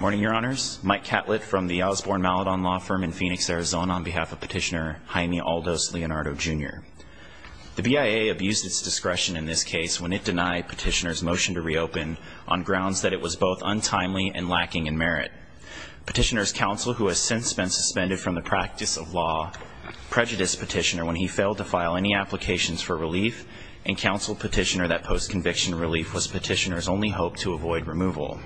morning your honors Mike Catlett from the Osborne-Maladon law firm in Phoenix Arizona on behalf of petitioner Jaime Aldo Leonardo jr. the BIA abused its discretion in this case when it denied petitioners motion to reopen on grounds that it was both untimely and lacking in merit petitioners counsel who has since been suspended from the practice of law prejudiced petitioner when he failed to file any applications for relief and counsel petitioner that post conviction relief was petitioners only hope to avoid removal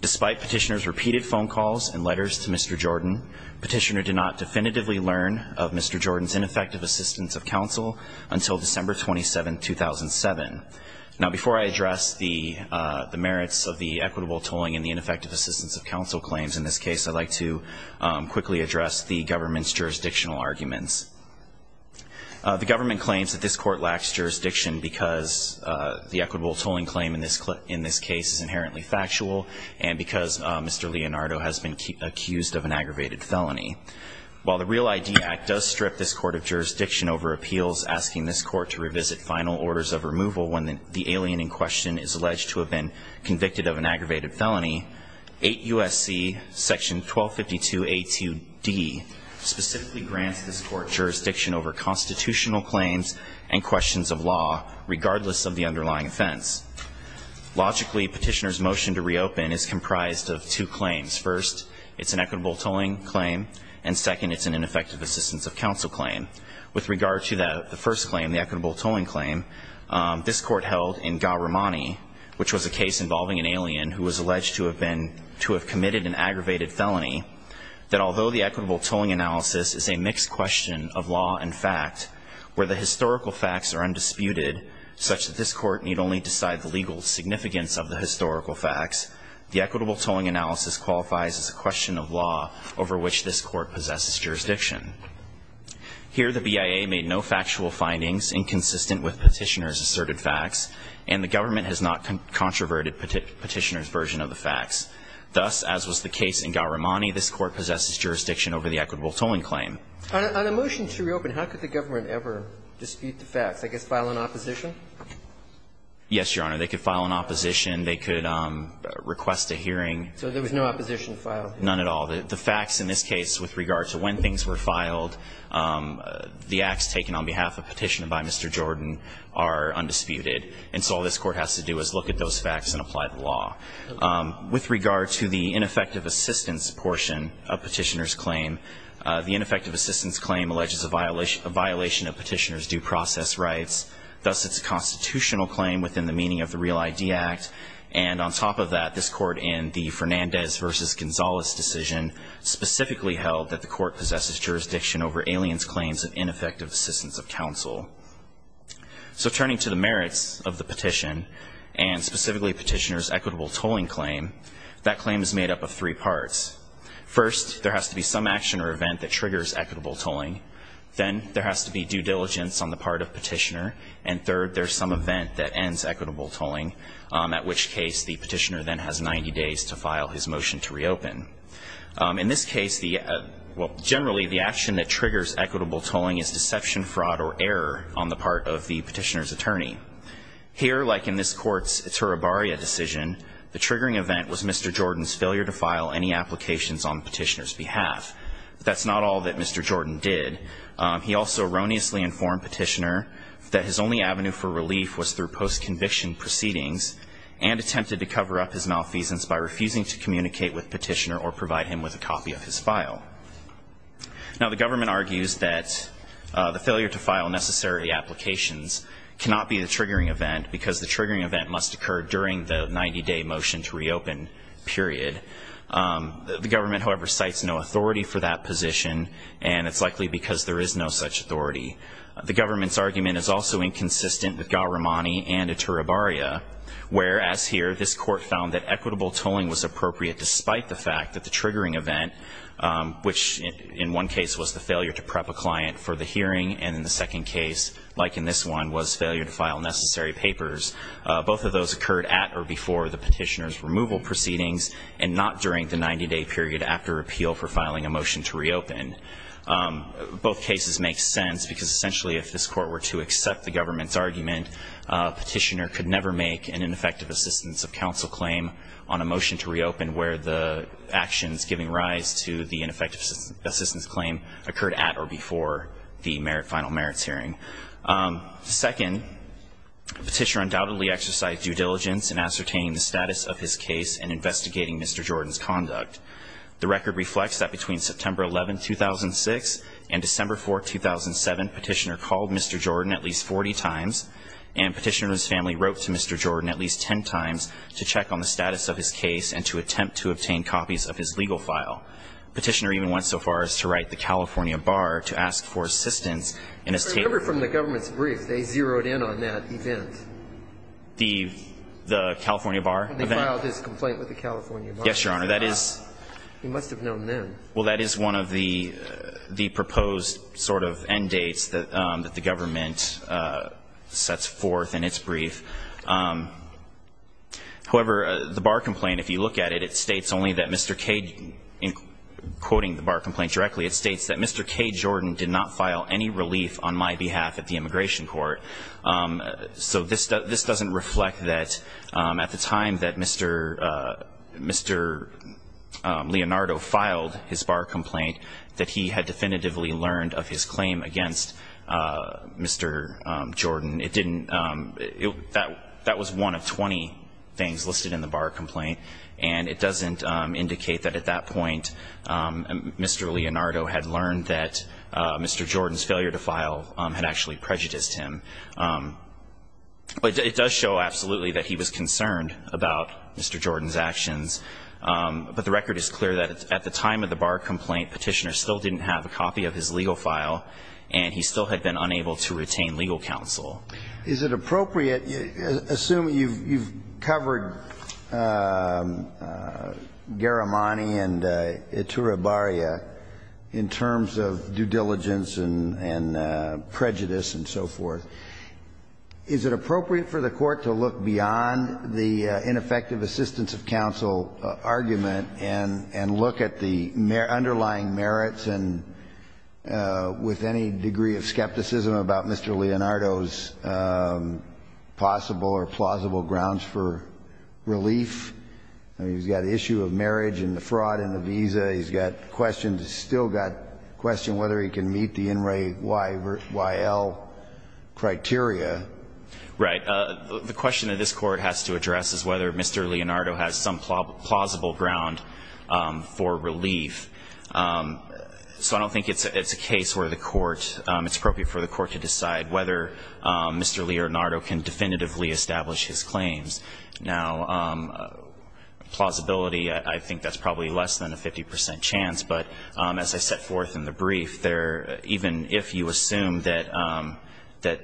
despite petitioners repeated phone calls and letters to mr. Jordan petitioner did not definitively learn of mr. Jordan's ineffective assistance of counsel until December 27 2007 now before I address the the merits of the equitable tolling in the ineffective assistance of counsel claims in this case I'd like to quickly address the government's jurisdictional arguments the government claims that this court lacks jurisdiction because the equitable tolling claim in this clip in this case is inherently factual and because mr. Leonardo has been accused of an aggravated felony while the real ID Act does strip this court of jurisdiction over appeals asking this court to revisit final orders of removal when the alien in question is alleged to have been convicted of an aggravated felony 8 USC section 1252 a 2d specifically grants this court jurisdiction over constitutional claims and questions of law regardless of the underlying offense logically petitioners motion to reopen is comprised of two claims first it's an equitable tolling claim and second it's an ineffective assistance of counsel claim with regard to that the first claim the equitable tolling claim this court held in Garamani which was a case involving an alien who was alleged to have been to have committed an aggravated felony that although the equitable tolling analysis is a mixed question of law in fact where the historical facts are undisputed such that this court need only decide the legal significance of the historical facts the equitable tolling analysis qualifies as a question of law over which this court possesses jurisdiction here the BIA made no factual findings inconsistent with petitioners asserted facts and the government has not controverted petitioners version of the jurisdiction over the equitable tolling claim motion to reopen how could the government ever dispute the facts I guess file an opposition yes your honor they could file an opposition they could request a hearing so there was no opposition file none at all the facts in this case with regard to when things were filed the acts taken on behalf of petitioner by mr. Jordan are undisputed and so all this court has to do is look at those facts and apply the law with regard to the ineffective assistance portion of petitioners claim the ineffective assistance claim alleges a violation a violation of petitioners due process rights thus it's constitutional claim within the meaning of the real idea act and on top of that this court in the Fernandez versus Gonzales decision specifically held that the court possesses jurisdiction over aliens claims of ineffective assistance of counsel so turning to the merits of the petition and specifically petitioners equitable tolling claim that claim is made up of three parts first there has to be some action or event that triggers equitable tolling then there has to be due diligence on the part of petitioner and third there's some event that ends equitable tolling at which case the petitioner then has 90 days to file his motion to reopen in this case the well generally the action that triggers equitable tolling is deception fraud or error on the part of the petitioners attorney here like in this court's it's her a barrier decision the triggering event was mr. Jordan's failure to file any applications on petitioners behalf that's not all that mr. Jordan did he also erroneously informed petitioner that his only avenue for relief was through post-conviction proceedings and attempted to cover up his malfeasance by refusing to communicate with petitioner or provide him with a copy of his file now the government argues that the failure to file necessary applications cannot be a triggering event because the triggering event must occur during the 90-day motion to reopen period the government however cites no authority for that position and it's likely because there is no such authority the government's argument is also inconsistent with Garamani and it's her a barrier whereas here this court found that equitable tolling was appropriate despite the fact that the triggering event which in one case was the failure to prep a client for the hearing and in the second case like in this one was failure to file necessary papers both of those occurred at or before the petitioners removal proceedings and not during the 90-day period after appeal for filing a motion to reopen both cases make sense because essentially if this court were to accept the government's argument petitioner could never make an ineffective assistance of counsel claim on a motion to reopen where the actions giving rise to the ineffective assistance claim occurred at or before the merit final merits hearing second petitioner undoubtedly exercise due diligence and ascertaining the status of his case and investigating mr. Jordan's conduct the record reflects that between September 11 2006 and December 4 2007 petitioner called mr. Jordan at least 40 times and petitioners family wrote to mr. Jordan at least 10 times to check on the status of his case and to attempt to obtain copies of his legal file petitioner even went so far as to write the California bar to ask for assistance in his from the government's brief they zeroed in on that event the the California bar filed his complaint with the California yes your honor that is he must have known then well that is one of the the proposed sort of end dates that that the government the bar complaint if you look at it it states only that mr. Cade in quoting the bar complaint directly it states that mr. Cade Jordan did not file any relief on my behalf at the immigration court so this does this doesn't reflect that at the time that mr. mr. Leonardo filed his bar complaint that he had definitively learned of his claim against mr. Jordan it didn't it that that was one of 20 things listed in the bar complaint and it doesn't indicate that at that point mr. Leonardo had learned that mr. Jordan's failure to file had actually prejudiced him but it does show absolutely that he was concerned about mr. Jordan's actions but the record is clear that at the time of the bar complaint petitioner still didn't have a copy of his legal file and he still had been unable to retain legal counsel is it appropriate assume you've covered Garamani and itura baria in terms of due diligence and and prejudice and so forth is it appropriate for the court to look beyond the ineffective assistance of counsel argument and and look at the underlying merits and with any degree of Leonardo's possible or plausible grounds for relief he's got issue of marriage and the fraud in the visa he's got questions still got question whether he can meet the in Ray why why L criteria right the question that this court has to address is whether mr. Leonardo has some plausible ground for relief so I don't think it's a case where the court it's appropriate for the court to decide whether mr. Leonardo can definitively establish his claims now plausibility I think that's probably less than a 50% chance but as I set forth in the brief there even if you assume that that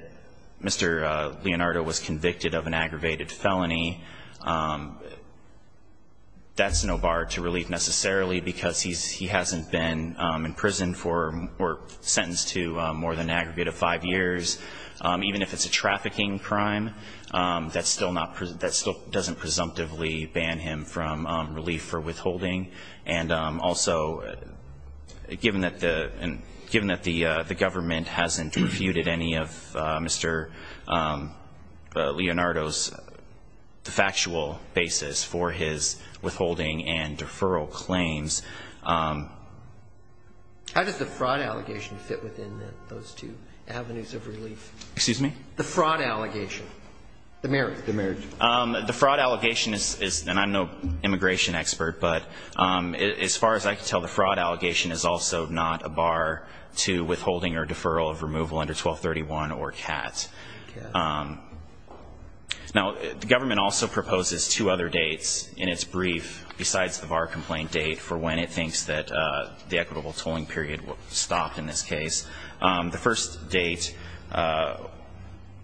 mr. Leonardo was convicted of an aggravated felony that's no bar to relief necessarily because he's he hasn't been in prison for or sentenced to more than aggregate of five years even if it's a trafficking crime that's still not present that still doesn't presumptively ban him from relief for withholding and also given that the and given that the the government hasn't refuted any of mr. Leonardo's the factual basis for his withholding and deferral claims how does the fraud allegation fit within those two avenues of relief excuse me the fraud allegation the marriage the marriage the fraud allegation is and I'm no immigration expert but as far as I could tell the fraud allegation is also not a bar to withholding or deferral of removal under 1231 or cats now the government also proposes two other dates in its brief besides the bar complaint date for when it thinks that the equitable tolling period will stop in this case the first date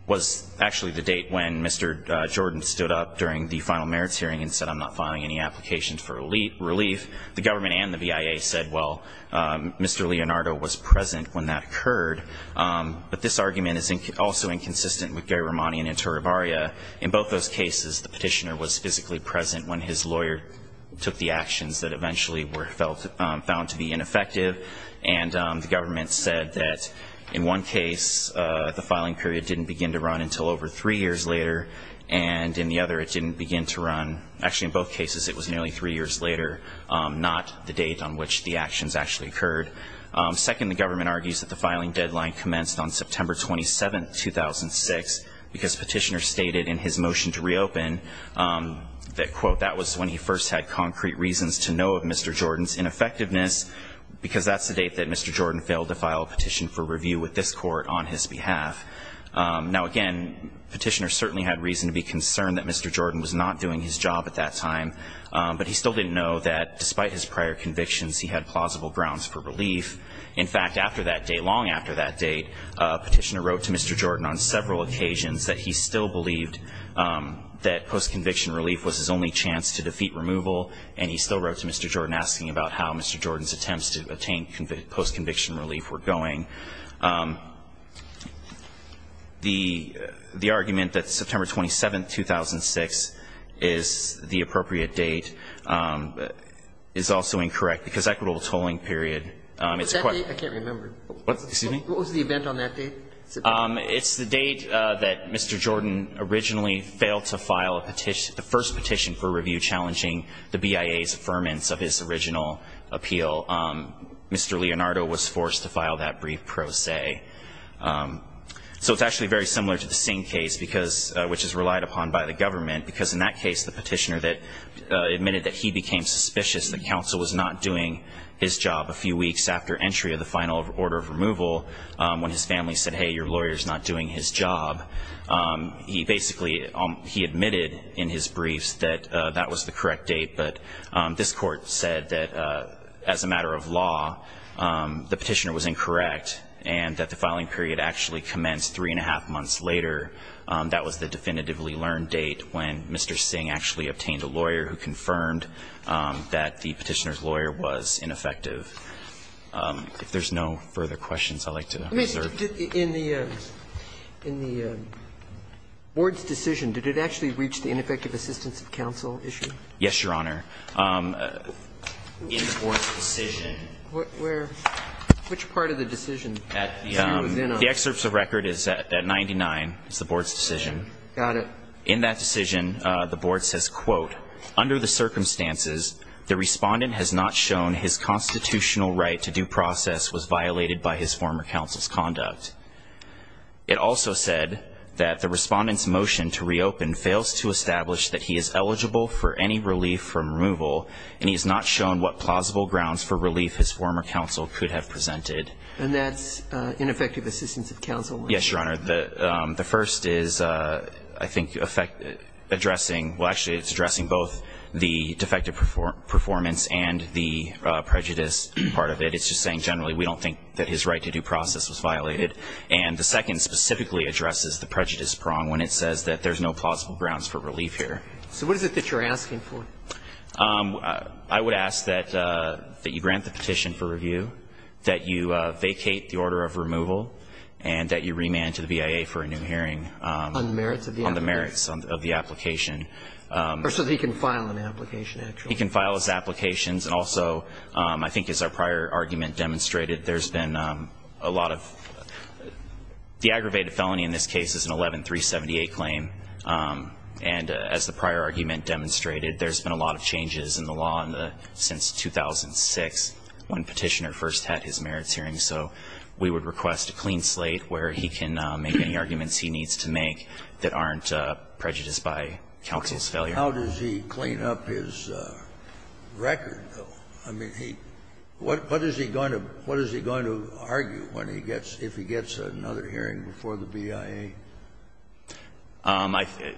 was actually the date when mr. Jordan stood up during the final merits hearing and said I'm not finding any applications for elite relief the government and the BIA said well mr. Leonardo was present when that occurred but this argument is also inconsistent with Gary Romani and interior Baria in both those cases the petitioner was physically present when his lawyer took the actions that eventually were felt found to be ineffective and the government said that in one case the filing period didn't begin to run until over three years later and in the other it didn't begin to run actually in both cases it was nearly three years later not the date on which the actions actually occurred second the government argues that the filing deadline commenced on September 27 2006 because petitioner stated in his motion to reopen that quote that was when he first had concrete reasons to know of mr. Jordan's ineffectiveness because that's the date that mr. Jordan failed to file a petition for review with this court on his behalf now again petitioner certainly had reason to be concerned that mr. Jordan was not doing his job at that time but he still didn't know that despite his prior convictions he had plausible grounds for relief in fact after that day long after that date petitioner wrote to mr. Jordan on several occasions that he still believed that post-conviction relief was his only chance to defeat removal and he still wrote to mr. Jordan asking about how mr. Jordan's attempts to attain post-conviction relief were going the the argument that September 27 2006 is the appropriate date is also incorrect because equitable tolling period it's quite I can't remember what was the event on that day it's the date that mr. Jordan originally failed to file a petition the first petition for review challenging the BIA's affirmance of his original appeal mr. Leonardo was forced to file that brief pro se so it's actually very similar to the same case because which is relied upon by the government because in that case the petitioner that admitted that he became suspicious that counsel was not doing his job a few weeks after entry of the final order of removal when his family said hey your lawyers not doing his job he basically he admitted in his briefs that that was the correct date but this court said that as a matter of law the petitioner was incorrect and that the filing period actually commenced three and a half months later that was the definitively learned date when mr. Singh actually obtained a lawyer who confirmed that the petitioner's lawyer was ineffective if there's no further questions I'd like to in the in the board's decision did it actually reach the ineffective assistance of counsel issue yes your honor which part of the decision the excerpts of record is that at 99 it's the board's decision got it in that decision the board says quote under the circumstances the respondent has not shown his constitutional right to due process was violated by his former counsel's conduct it also said that the board was to establish that he is eligible for any relief from removal and he's not shown what plausible grounds for relief his former counsel could have presented and that's ineffective assistance of counsel yes your honor the the first is I think effect addressing well actually it's addressing both the defective performance and the prejudice part of it it's just saying generally we don't think that his right to due process was violated and the second addresses the prejudice prong when it says that there's no plausible grounds for relief here so what is it that you're asking for I would ask that that you grant the petition for review that you vacate the order of removal and that you remand to the BIA for a new hearing on the merits of the in the merits of the application or so they can file an application he can file his applications and also I think is our prior argument demonstrated there's been a lot of the aggravated felony in this case is an 11378 claim and as the prior argument demonstrated there's been a lot of changes in the law in the since 2006 when petitioner first had his merits hearing so we would request a clean slate where he can make any arguments he needs to make that aren't prejudiced by counsel's failure how does he clean up his record though I mean he what what is he going to what is he going to argue when he gets if he gets another hearing before the BIA um I think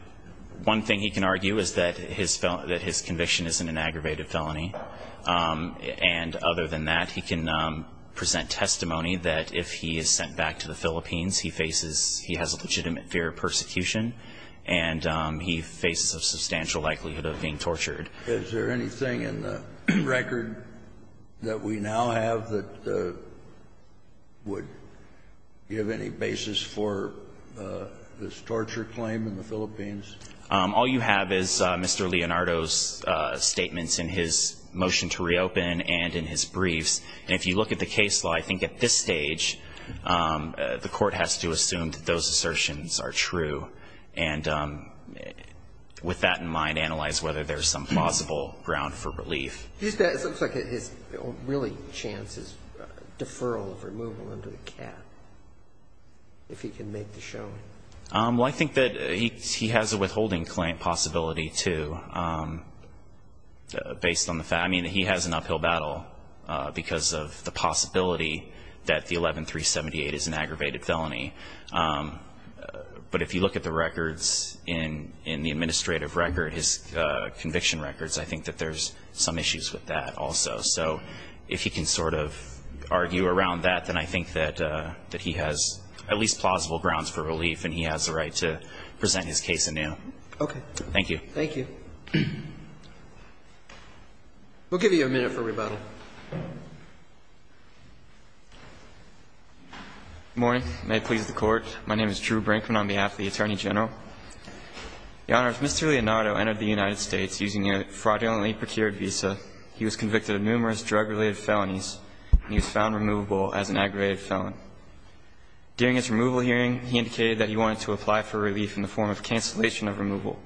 one thing he can argue is that his felon that his conviction isn't an aggravated felony and other than that he can present testimony that if he is sent back to the Philippines he faces he has a legitimate fear of persecution and he faces a substantial likelihood of being tortured is there anything in the record that we now have that would give any basis for this torture claim in the Philippines all you have is Mr. Leonardo's statements in his motion to reopen and in his briefs and if you look at the case law I think at this stage the court has to assume that those assertions are true and with that in mind analyze whether there's some plausible ground for relief is that it looks like it is really chances deferral of removal under the cap if he can make the show well I think that he has a withholding claim possibility to based on the fact I mean he has an uphill battle because of the possibility that the 11378 is an but if you look at the records in in the administrative record his conviction records I think that there's some issues with that also so if you can sort of argue around that then I think that that he has at least plausible grounds for relief and he has the right to present his case in now okay thank you thank you we'll give you a minute for rebuttal morning may it please the court my name is Drew Brinkman on behalf of the Attorney General the honors Mr. Leonardo entered the United States using a fraudulently procured visa he was convicted of numerous drug-related felonies he was found removable as an aggravated felon during his removal hearing he indicated that he wanted to apply for relief in the form of cancellation of removal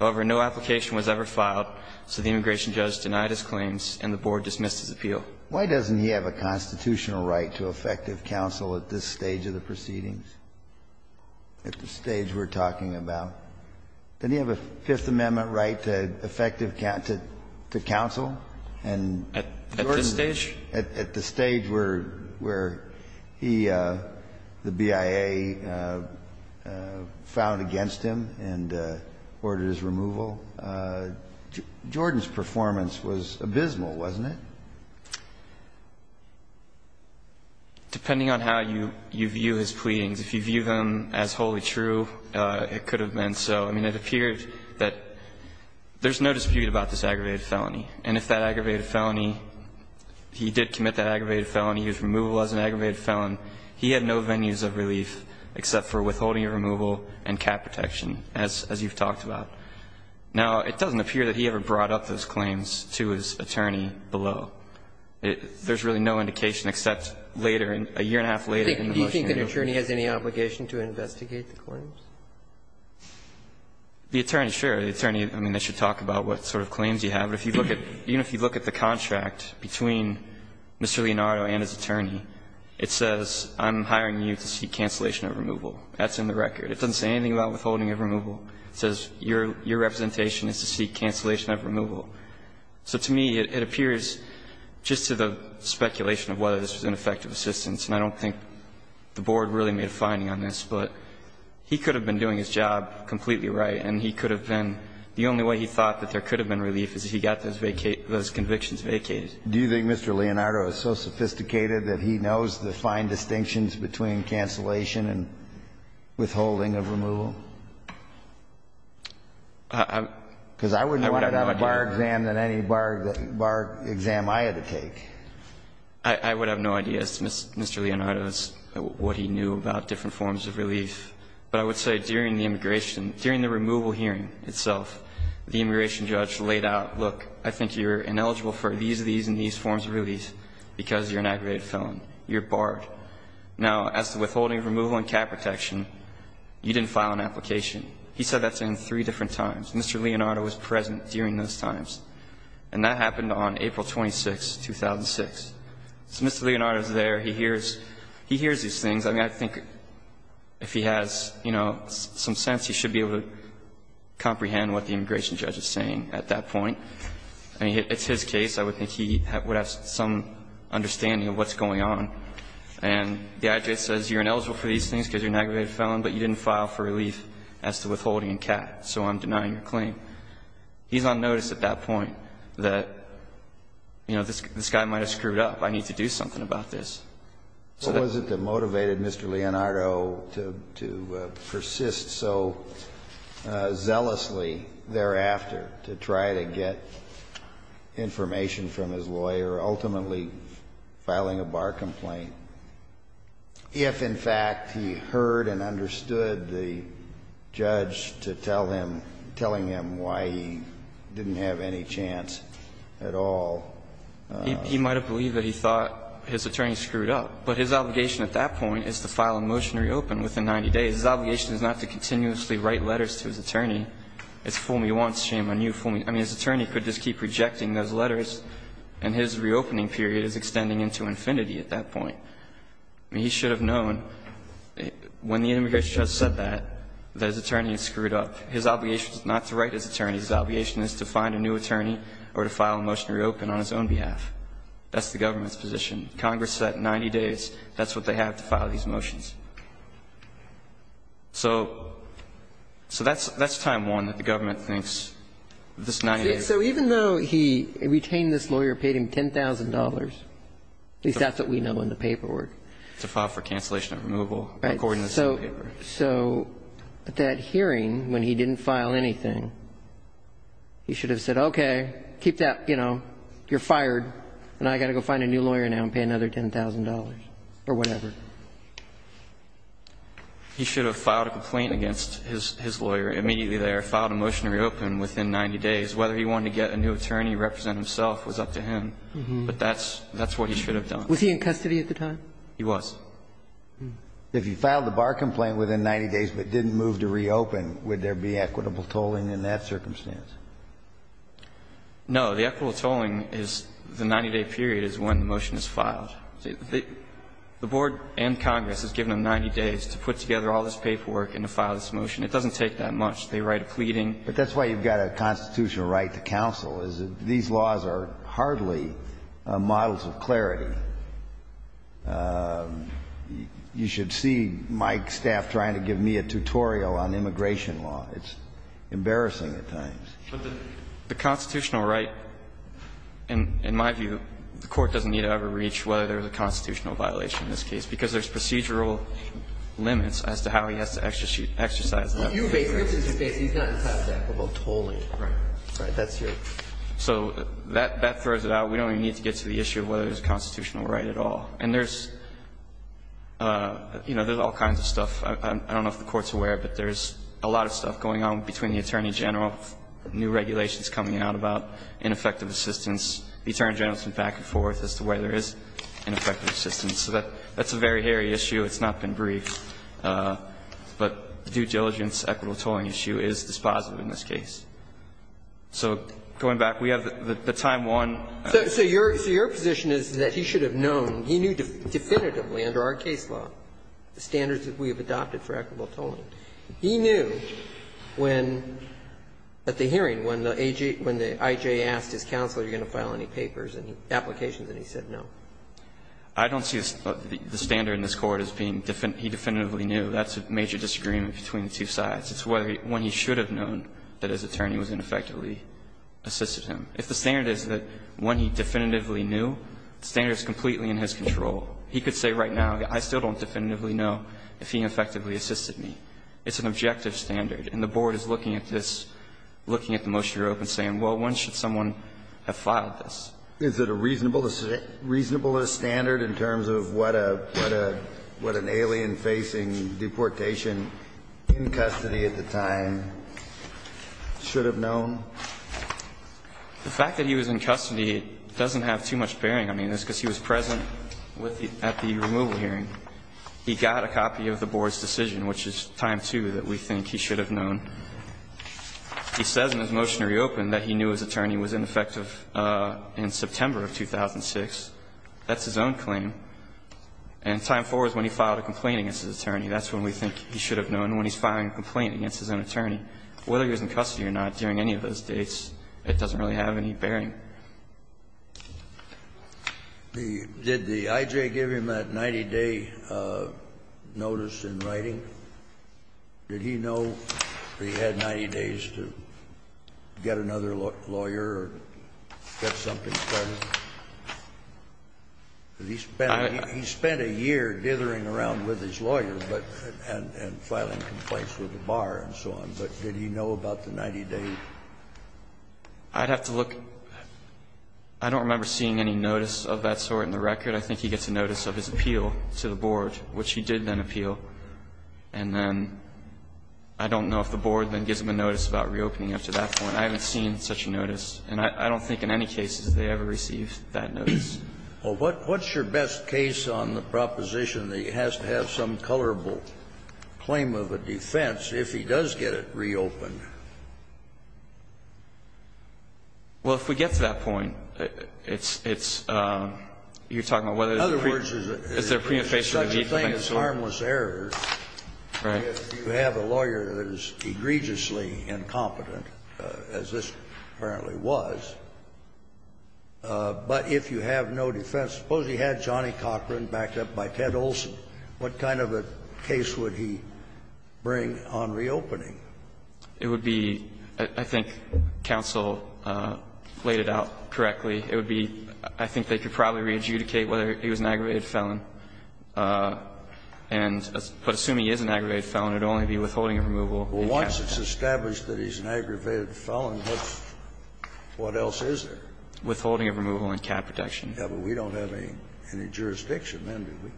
however no application was ever filed so the immigration judge denied his claims and the board dismissed his appeal why doesn't he have a constitutional right to effective counsel at this stage of the proceedings at the stage we're talking about then you have a Fifth Amendment right to effective counsel to counsel and at this stage at the stage where where he the BIA found against him and ordered his removal Jordan's performance was abysmal wasn't it depending on how you you view his pleadings if you view them as wholly true it could have been so I mean it appeared that there's no dispute about this aggravated felony and if that aggravated felony he did commit that aggravated felony use removal as an aggravated felon he had no venues of relief except for withholding a removal and cap protection as as you've talked about now it doesn't appear that he ever brought up those claims to his attorney below it there's really no indication except later in a year and a half later do you think an attorney has any obligation to investigate the claims the attorney sure the attorney I mean they should talk about what sort of claims you have if you look at you know if you look at the contract between Mr. Leonardo and his attorney it says I'm hiring you to seek cancellation of removal that's in the record it doesn't say anything about withholding of removal says your your representation is to seek cancellation of removal so to me it appears just to the speculation of whether this was an effective assistance and I don't think the board really made a finding on this but he could have been doing his job completely right and he could have been the only way he thought that there could have been relief is he got those vacate those convictions vacated do you think Mr. Leonardo is so sophisticated that he knows the fine distinctions between cancellation and withholding of removal because I wouldn't want to have a bar exam than any bar bar exam I had to take I would have no idea as to Mr. Mr. Leonardo's what he knew about different forms of relief but I would say during the immigration during the removal hearing itself the immigration judge laid out look I think you're ineligible for these these and these forms of release because you're an aggravated felon you're barred now as to withholding removal and cap protection you didn't file an application he said that's in three different times Mr. Leonardo was present during those times and that happened on April 26 2006 so Mr. Leonardo is there he hears he hears these things I mean I think if he has you know some sense he should be able to comprehend what the immigration judge is saying at that point I mean it's his case I would think he would have some understanding of what's going on and the IJ says you're ineligible for these things because you're an aggravated felon but you didn't file for relief as to withholding and cap so I'm denying your claim he's on notice at that point that you know this guy might have screwed up I need to do something about this. What was it that motivated Mr. Leonardo to to persist so zealously thereafter to try to get information from his lawyer ultimately filing a bar complaint if in fact he heard and understood the judge to tell him telling him why he didn't have any chance at all he might have believed that he thought his attorney screwed up but his obligation at that point is to file a motion to reopen within 90 days his obligation is not to continuously write letters to his attorney it's fool me once shame on you fool me I mean his attorney could just keep rejecting those letters and his reopening period is extending into infinity at that point he should have known when the immigration judge said that that his attorney is screwed up his obligation is not to write his attorney his obligation is to find a new attorney or to file a motion to reopen on his own behalf that's the government's position Congress said 90 days that's what they have to file these motions so so that's that's time one that the government thinks this 90 days so even though he retained this lawyer paid him $10,000 at least that's what we know in the paperwork to file for cancellation and removal according to the same paper so at that hearing when he didn't file anything he should have said okay keep that you know you're fired and I got to go find a new lawyer now and pay another $10,000 or whatever he should have filed a complaint against his lawyer immediately there filed a motion to reopen within 90 days whether he wanted to get a new attorney represent himself was up to him but that's that's what he should have done was he in custody at the time he was if he filed the bar complaint within 90 days but didn't move to reopen would there be equitable tolling in that filed the board and Congress has given him 90 days to put together all this paperwork and to file this motion it doesn't take that much they write a pleading but that's why you've got a constitutional right to counsel is these laws are hardly models of clarity you should see my staff trying to give me a tutorial on immigration law it's embarrassing at times the constitutional right and in my view the court doesn't need to ever reach whether there's a constitutional violation in this case because there's procedural limits as to how he has to exercise that so that that throws it out we don't need to get to the issue whether there's a constitutional right at all and there's you know there's all kinds of stuff I don't know if the court's aware but there's a lot of stuff going on between the Attorney General new regulations coming out about ineffective assistance the Attorney General's been back and forth as to whether there is an effective assistance so that that's a very hairy issue it's not been briefed but due diligence equitable tolling issue is dispositive in this case so going back we have the time one so your so your position is that he should have known he knew definitively under our case law the standards that we have adopted for equitable tolling he knew when at the hearing when the AJ when the IJ asked his counselor you're going to file any papers and applications and he said no I don't see the standard in this court as being different he definitively knew that's a major disagreement between the two sides it's whether when he should have known that his attorney was ineffectively assisted him if the standard is that when he definitively knew standards completely in his control he could say right now I still don't definitively know if he effectively assisted me it's an objective standard and the board is looking at this looking at the motion you're open saying well when should someone have filed this is it a reasonable is it reasonable a standard in terms of what a what a what an alien facing deportation in custody at the time should have known the fact that he was in custody doesn't have too much bearing I mean it's because he was present with at the removal hearing he got a copy of the board's decision which is time to that we think he should have known he says in his motionary open that he knew his attorney was ineffective in September of 2006 that's his own claim and time for is when he filed a complaint against his attorney that's when we think he should have known when he's filing a complaint against his own attorney whether he was in custody or not during any of those dates it doesn't really have any bearing. The did the IJ give him that 90-day notice in writing did he know he had 90 days to get another lawyer get something he spent he spent a year dithering around with his lawyer but and filing complaints with the bar and so on but did he know about the 90-day I'd have to look I don't remember seeing any notice of that sort in the record I think he gets a notice of his appeal to the board which he did then appeal and then I don't know if the board then gives him a notice about reopening up to that point I haven't seen such a notice and I don't think in any cases they ever received that notice. Well, what's your best case on the proposition that he has to have some colorable claim of a defense if he does get it reopened? Well, if we get to that point, it's you're talking about whether there's a preemphasis on the defense. In other words, such a thing as harmless error if you have a lawyer that is egregiously incompetent as this apparently was but if you have no defense suppose he had Johnny Cochran backed up by Ted Olson what kind of a case would he bring on reopening? It would be I think counsel laid it out correctly it would be I think they could probably re-adjudicate whether he was an aggravated felon and but assuming he is an aggravated felon what else is there? Withholding of removal and cat protection. Yeah, but we don't have any jurisdiction then, do we?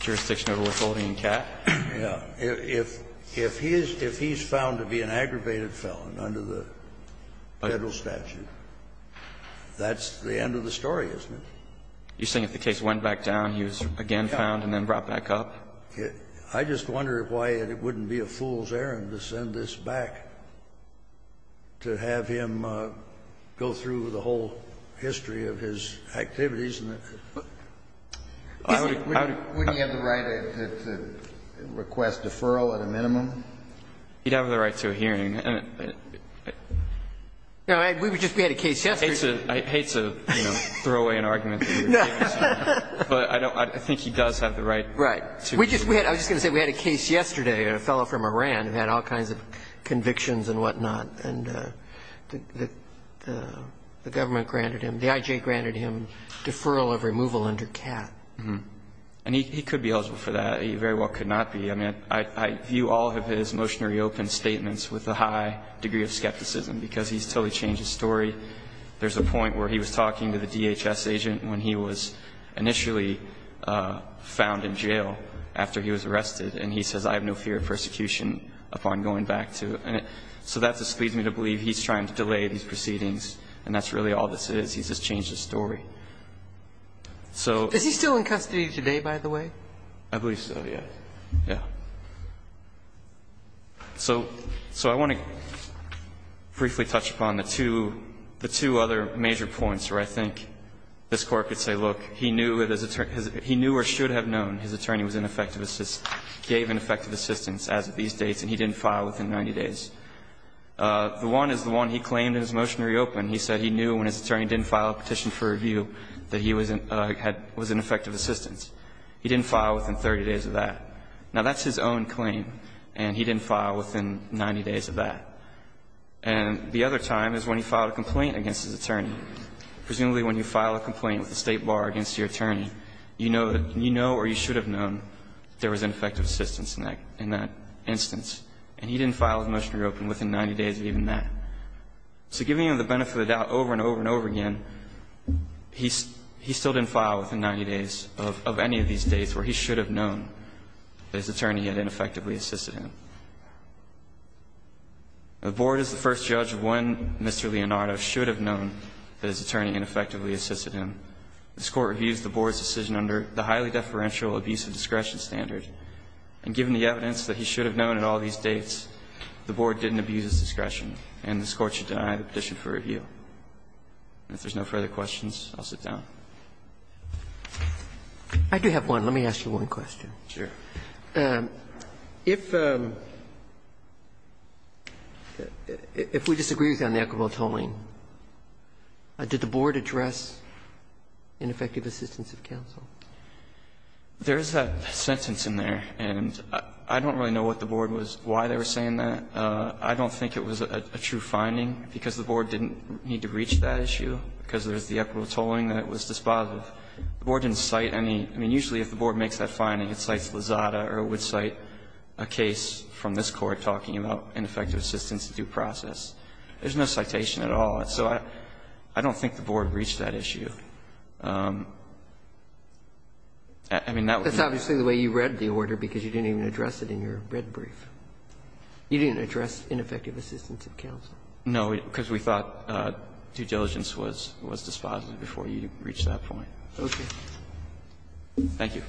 Jurisdiction over withholding and cat? Yeah. If he's found to be an aggravated felon under the Federal statute, that's the end of the story, isn't it? You're saying if the case went back down he was again found and then brought back up? I just wonder why it wouldn't be a fool's errand to send this back to have him go through the whole history of his activities. Wouldn't he have the right to request deferral at a minimum? He'd have the right to a hearing. No, we just had a case yesterday. I hate to throw away an argument, but I think he does have the right. I was just going to say we had a case yesterday, a fellow from Iran who had all kinds of convictions and whatnot and the government granted him, the I.J. granted him deferral of removal under cat. And he could be eligible for that. He very well could not be. I mean, I view all of his motionary open statements with a high degree of skepticism because he's totally changed his story. There's a point where he was talking to the DHS agent when he was initially found in jail after he was arrested. And he says, I have no fear of persecution upon going back to it. So that just leads me to believe he's trying to delay these proceedings. And that's really all this is. He's just changed his story. So is he still in custody today, by the way? I believe so. Yeah. Yeah. So I want to briefly touch upon the two other major points where I think this Court could say, look, he knew or should have known his attorney was ineffective assistance, gave ineffective assistance as of these dates, and he didn't file within 90 days. The one is the one he claimed in his motionary open. He said he knew when his attorney didn't file a petition for review that he was in effective assistance. He didn't file within 30 days of that. Now, that's his own claim, and he didn't file within 90 days of that. And the other time is when he filed a complaint against his attorney. Presumably when you file a complaint with the state bar against your attorney, you know or you should have known there was ineffective assistance in that instance. And he didn't file his motionary open within 90 days of even that. So giving him the benefit of the doubt over and over and over again, he still didn't file within 90 days of any of these dates where he should have known that his attorney had ineffectively assisted him. The Board is the first judge of when Mr. Leonardo should have known that his attorney ineffectively assisted him. This Court reviews the Board's decision under the highly deferential abuse of discretion standard, and given the evidence that he should have known at all these dates, the Board didn't abuse its discretion, and this Court should deny the petition for review. And if there's no further questions, I'll sit down. Roberts, I do have one. Let me ask you one question. If we disagree with you on the equitable tolling, did the Board address ineffective assistance of counsel? There is a sentence in there, and I don't really know what the Board was why they were saying that. I don't think it was a true finding, because the Board didn't need to reach that issue, because there's the equitable tolling that it was despised with. The Board didn't cite any – I mean, usually if the Board makes that finding, it cites Lozada or it would cite a case from this Court talking about ineffective assistance due process. There's no citation at all. So I don't think the Board reached that issue. I mean, that was not the case. That's obviously the way you read the order, because you didn't even address it in your red brief. You didn't address ineffective assistance of counsel. No, because we thought due diligence was despised before you reached that point. Okay. Thank you.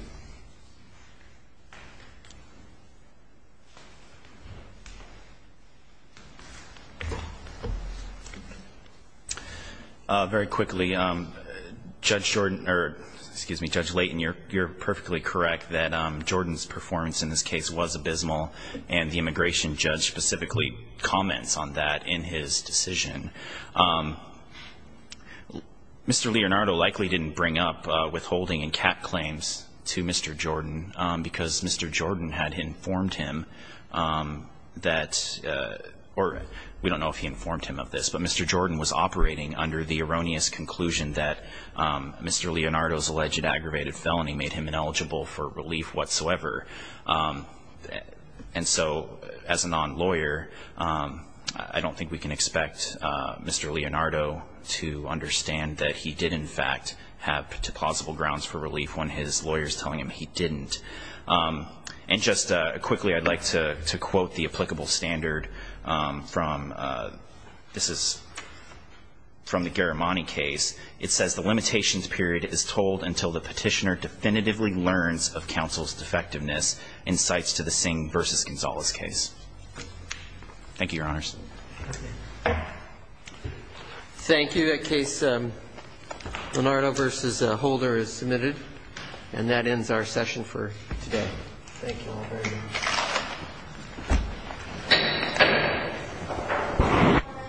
Very quickly, Judge Jordan – or excuse me, Judge Layton, you're – you're perfectly correct that Jordan's performance in this case was abysmal, and the immigration judge specifically comments on that in his decision. Mr. Leonardo likely didn't bring up withholding and cap claims to Mr. Jordan, because Mr. Jordan had informed him that – or we don't know if he informed him of this, but Mr. Jordan was operating under the erroneous conclusion that Mr. Leonardo's alleged aggravated felony made him ineligible for relief whatsoever. And so, as a non-lawyer, I don't think we can expect Mr. Leonardo to understand that he did, in fact, have plausible grounds for relief when his lawyer is telling him he didn't. And just quickly, I'd like to quote the applicable standard from – this is from the Garamani case. It says, the limitations period is told until the petitioner definitively learns of this incites to the Singh v. Gonzalez case. Thank you, Your Honors. Thank you. Thank you. Case Leonardo v. Holder is submitted, and that ends our session for today. Thank you all very much.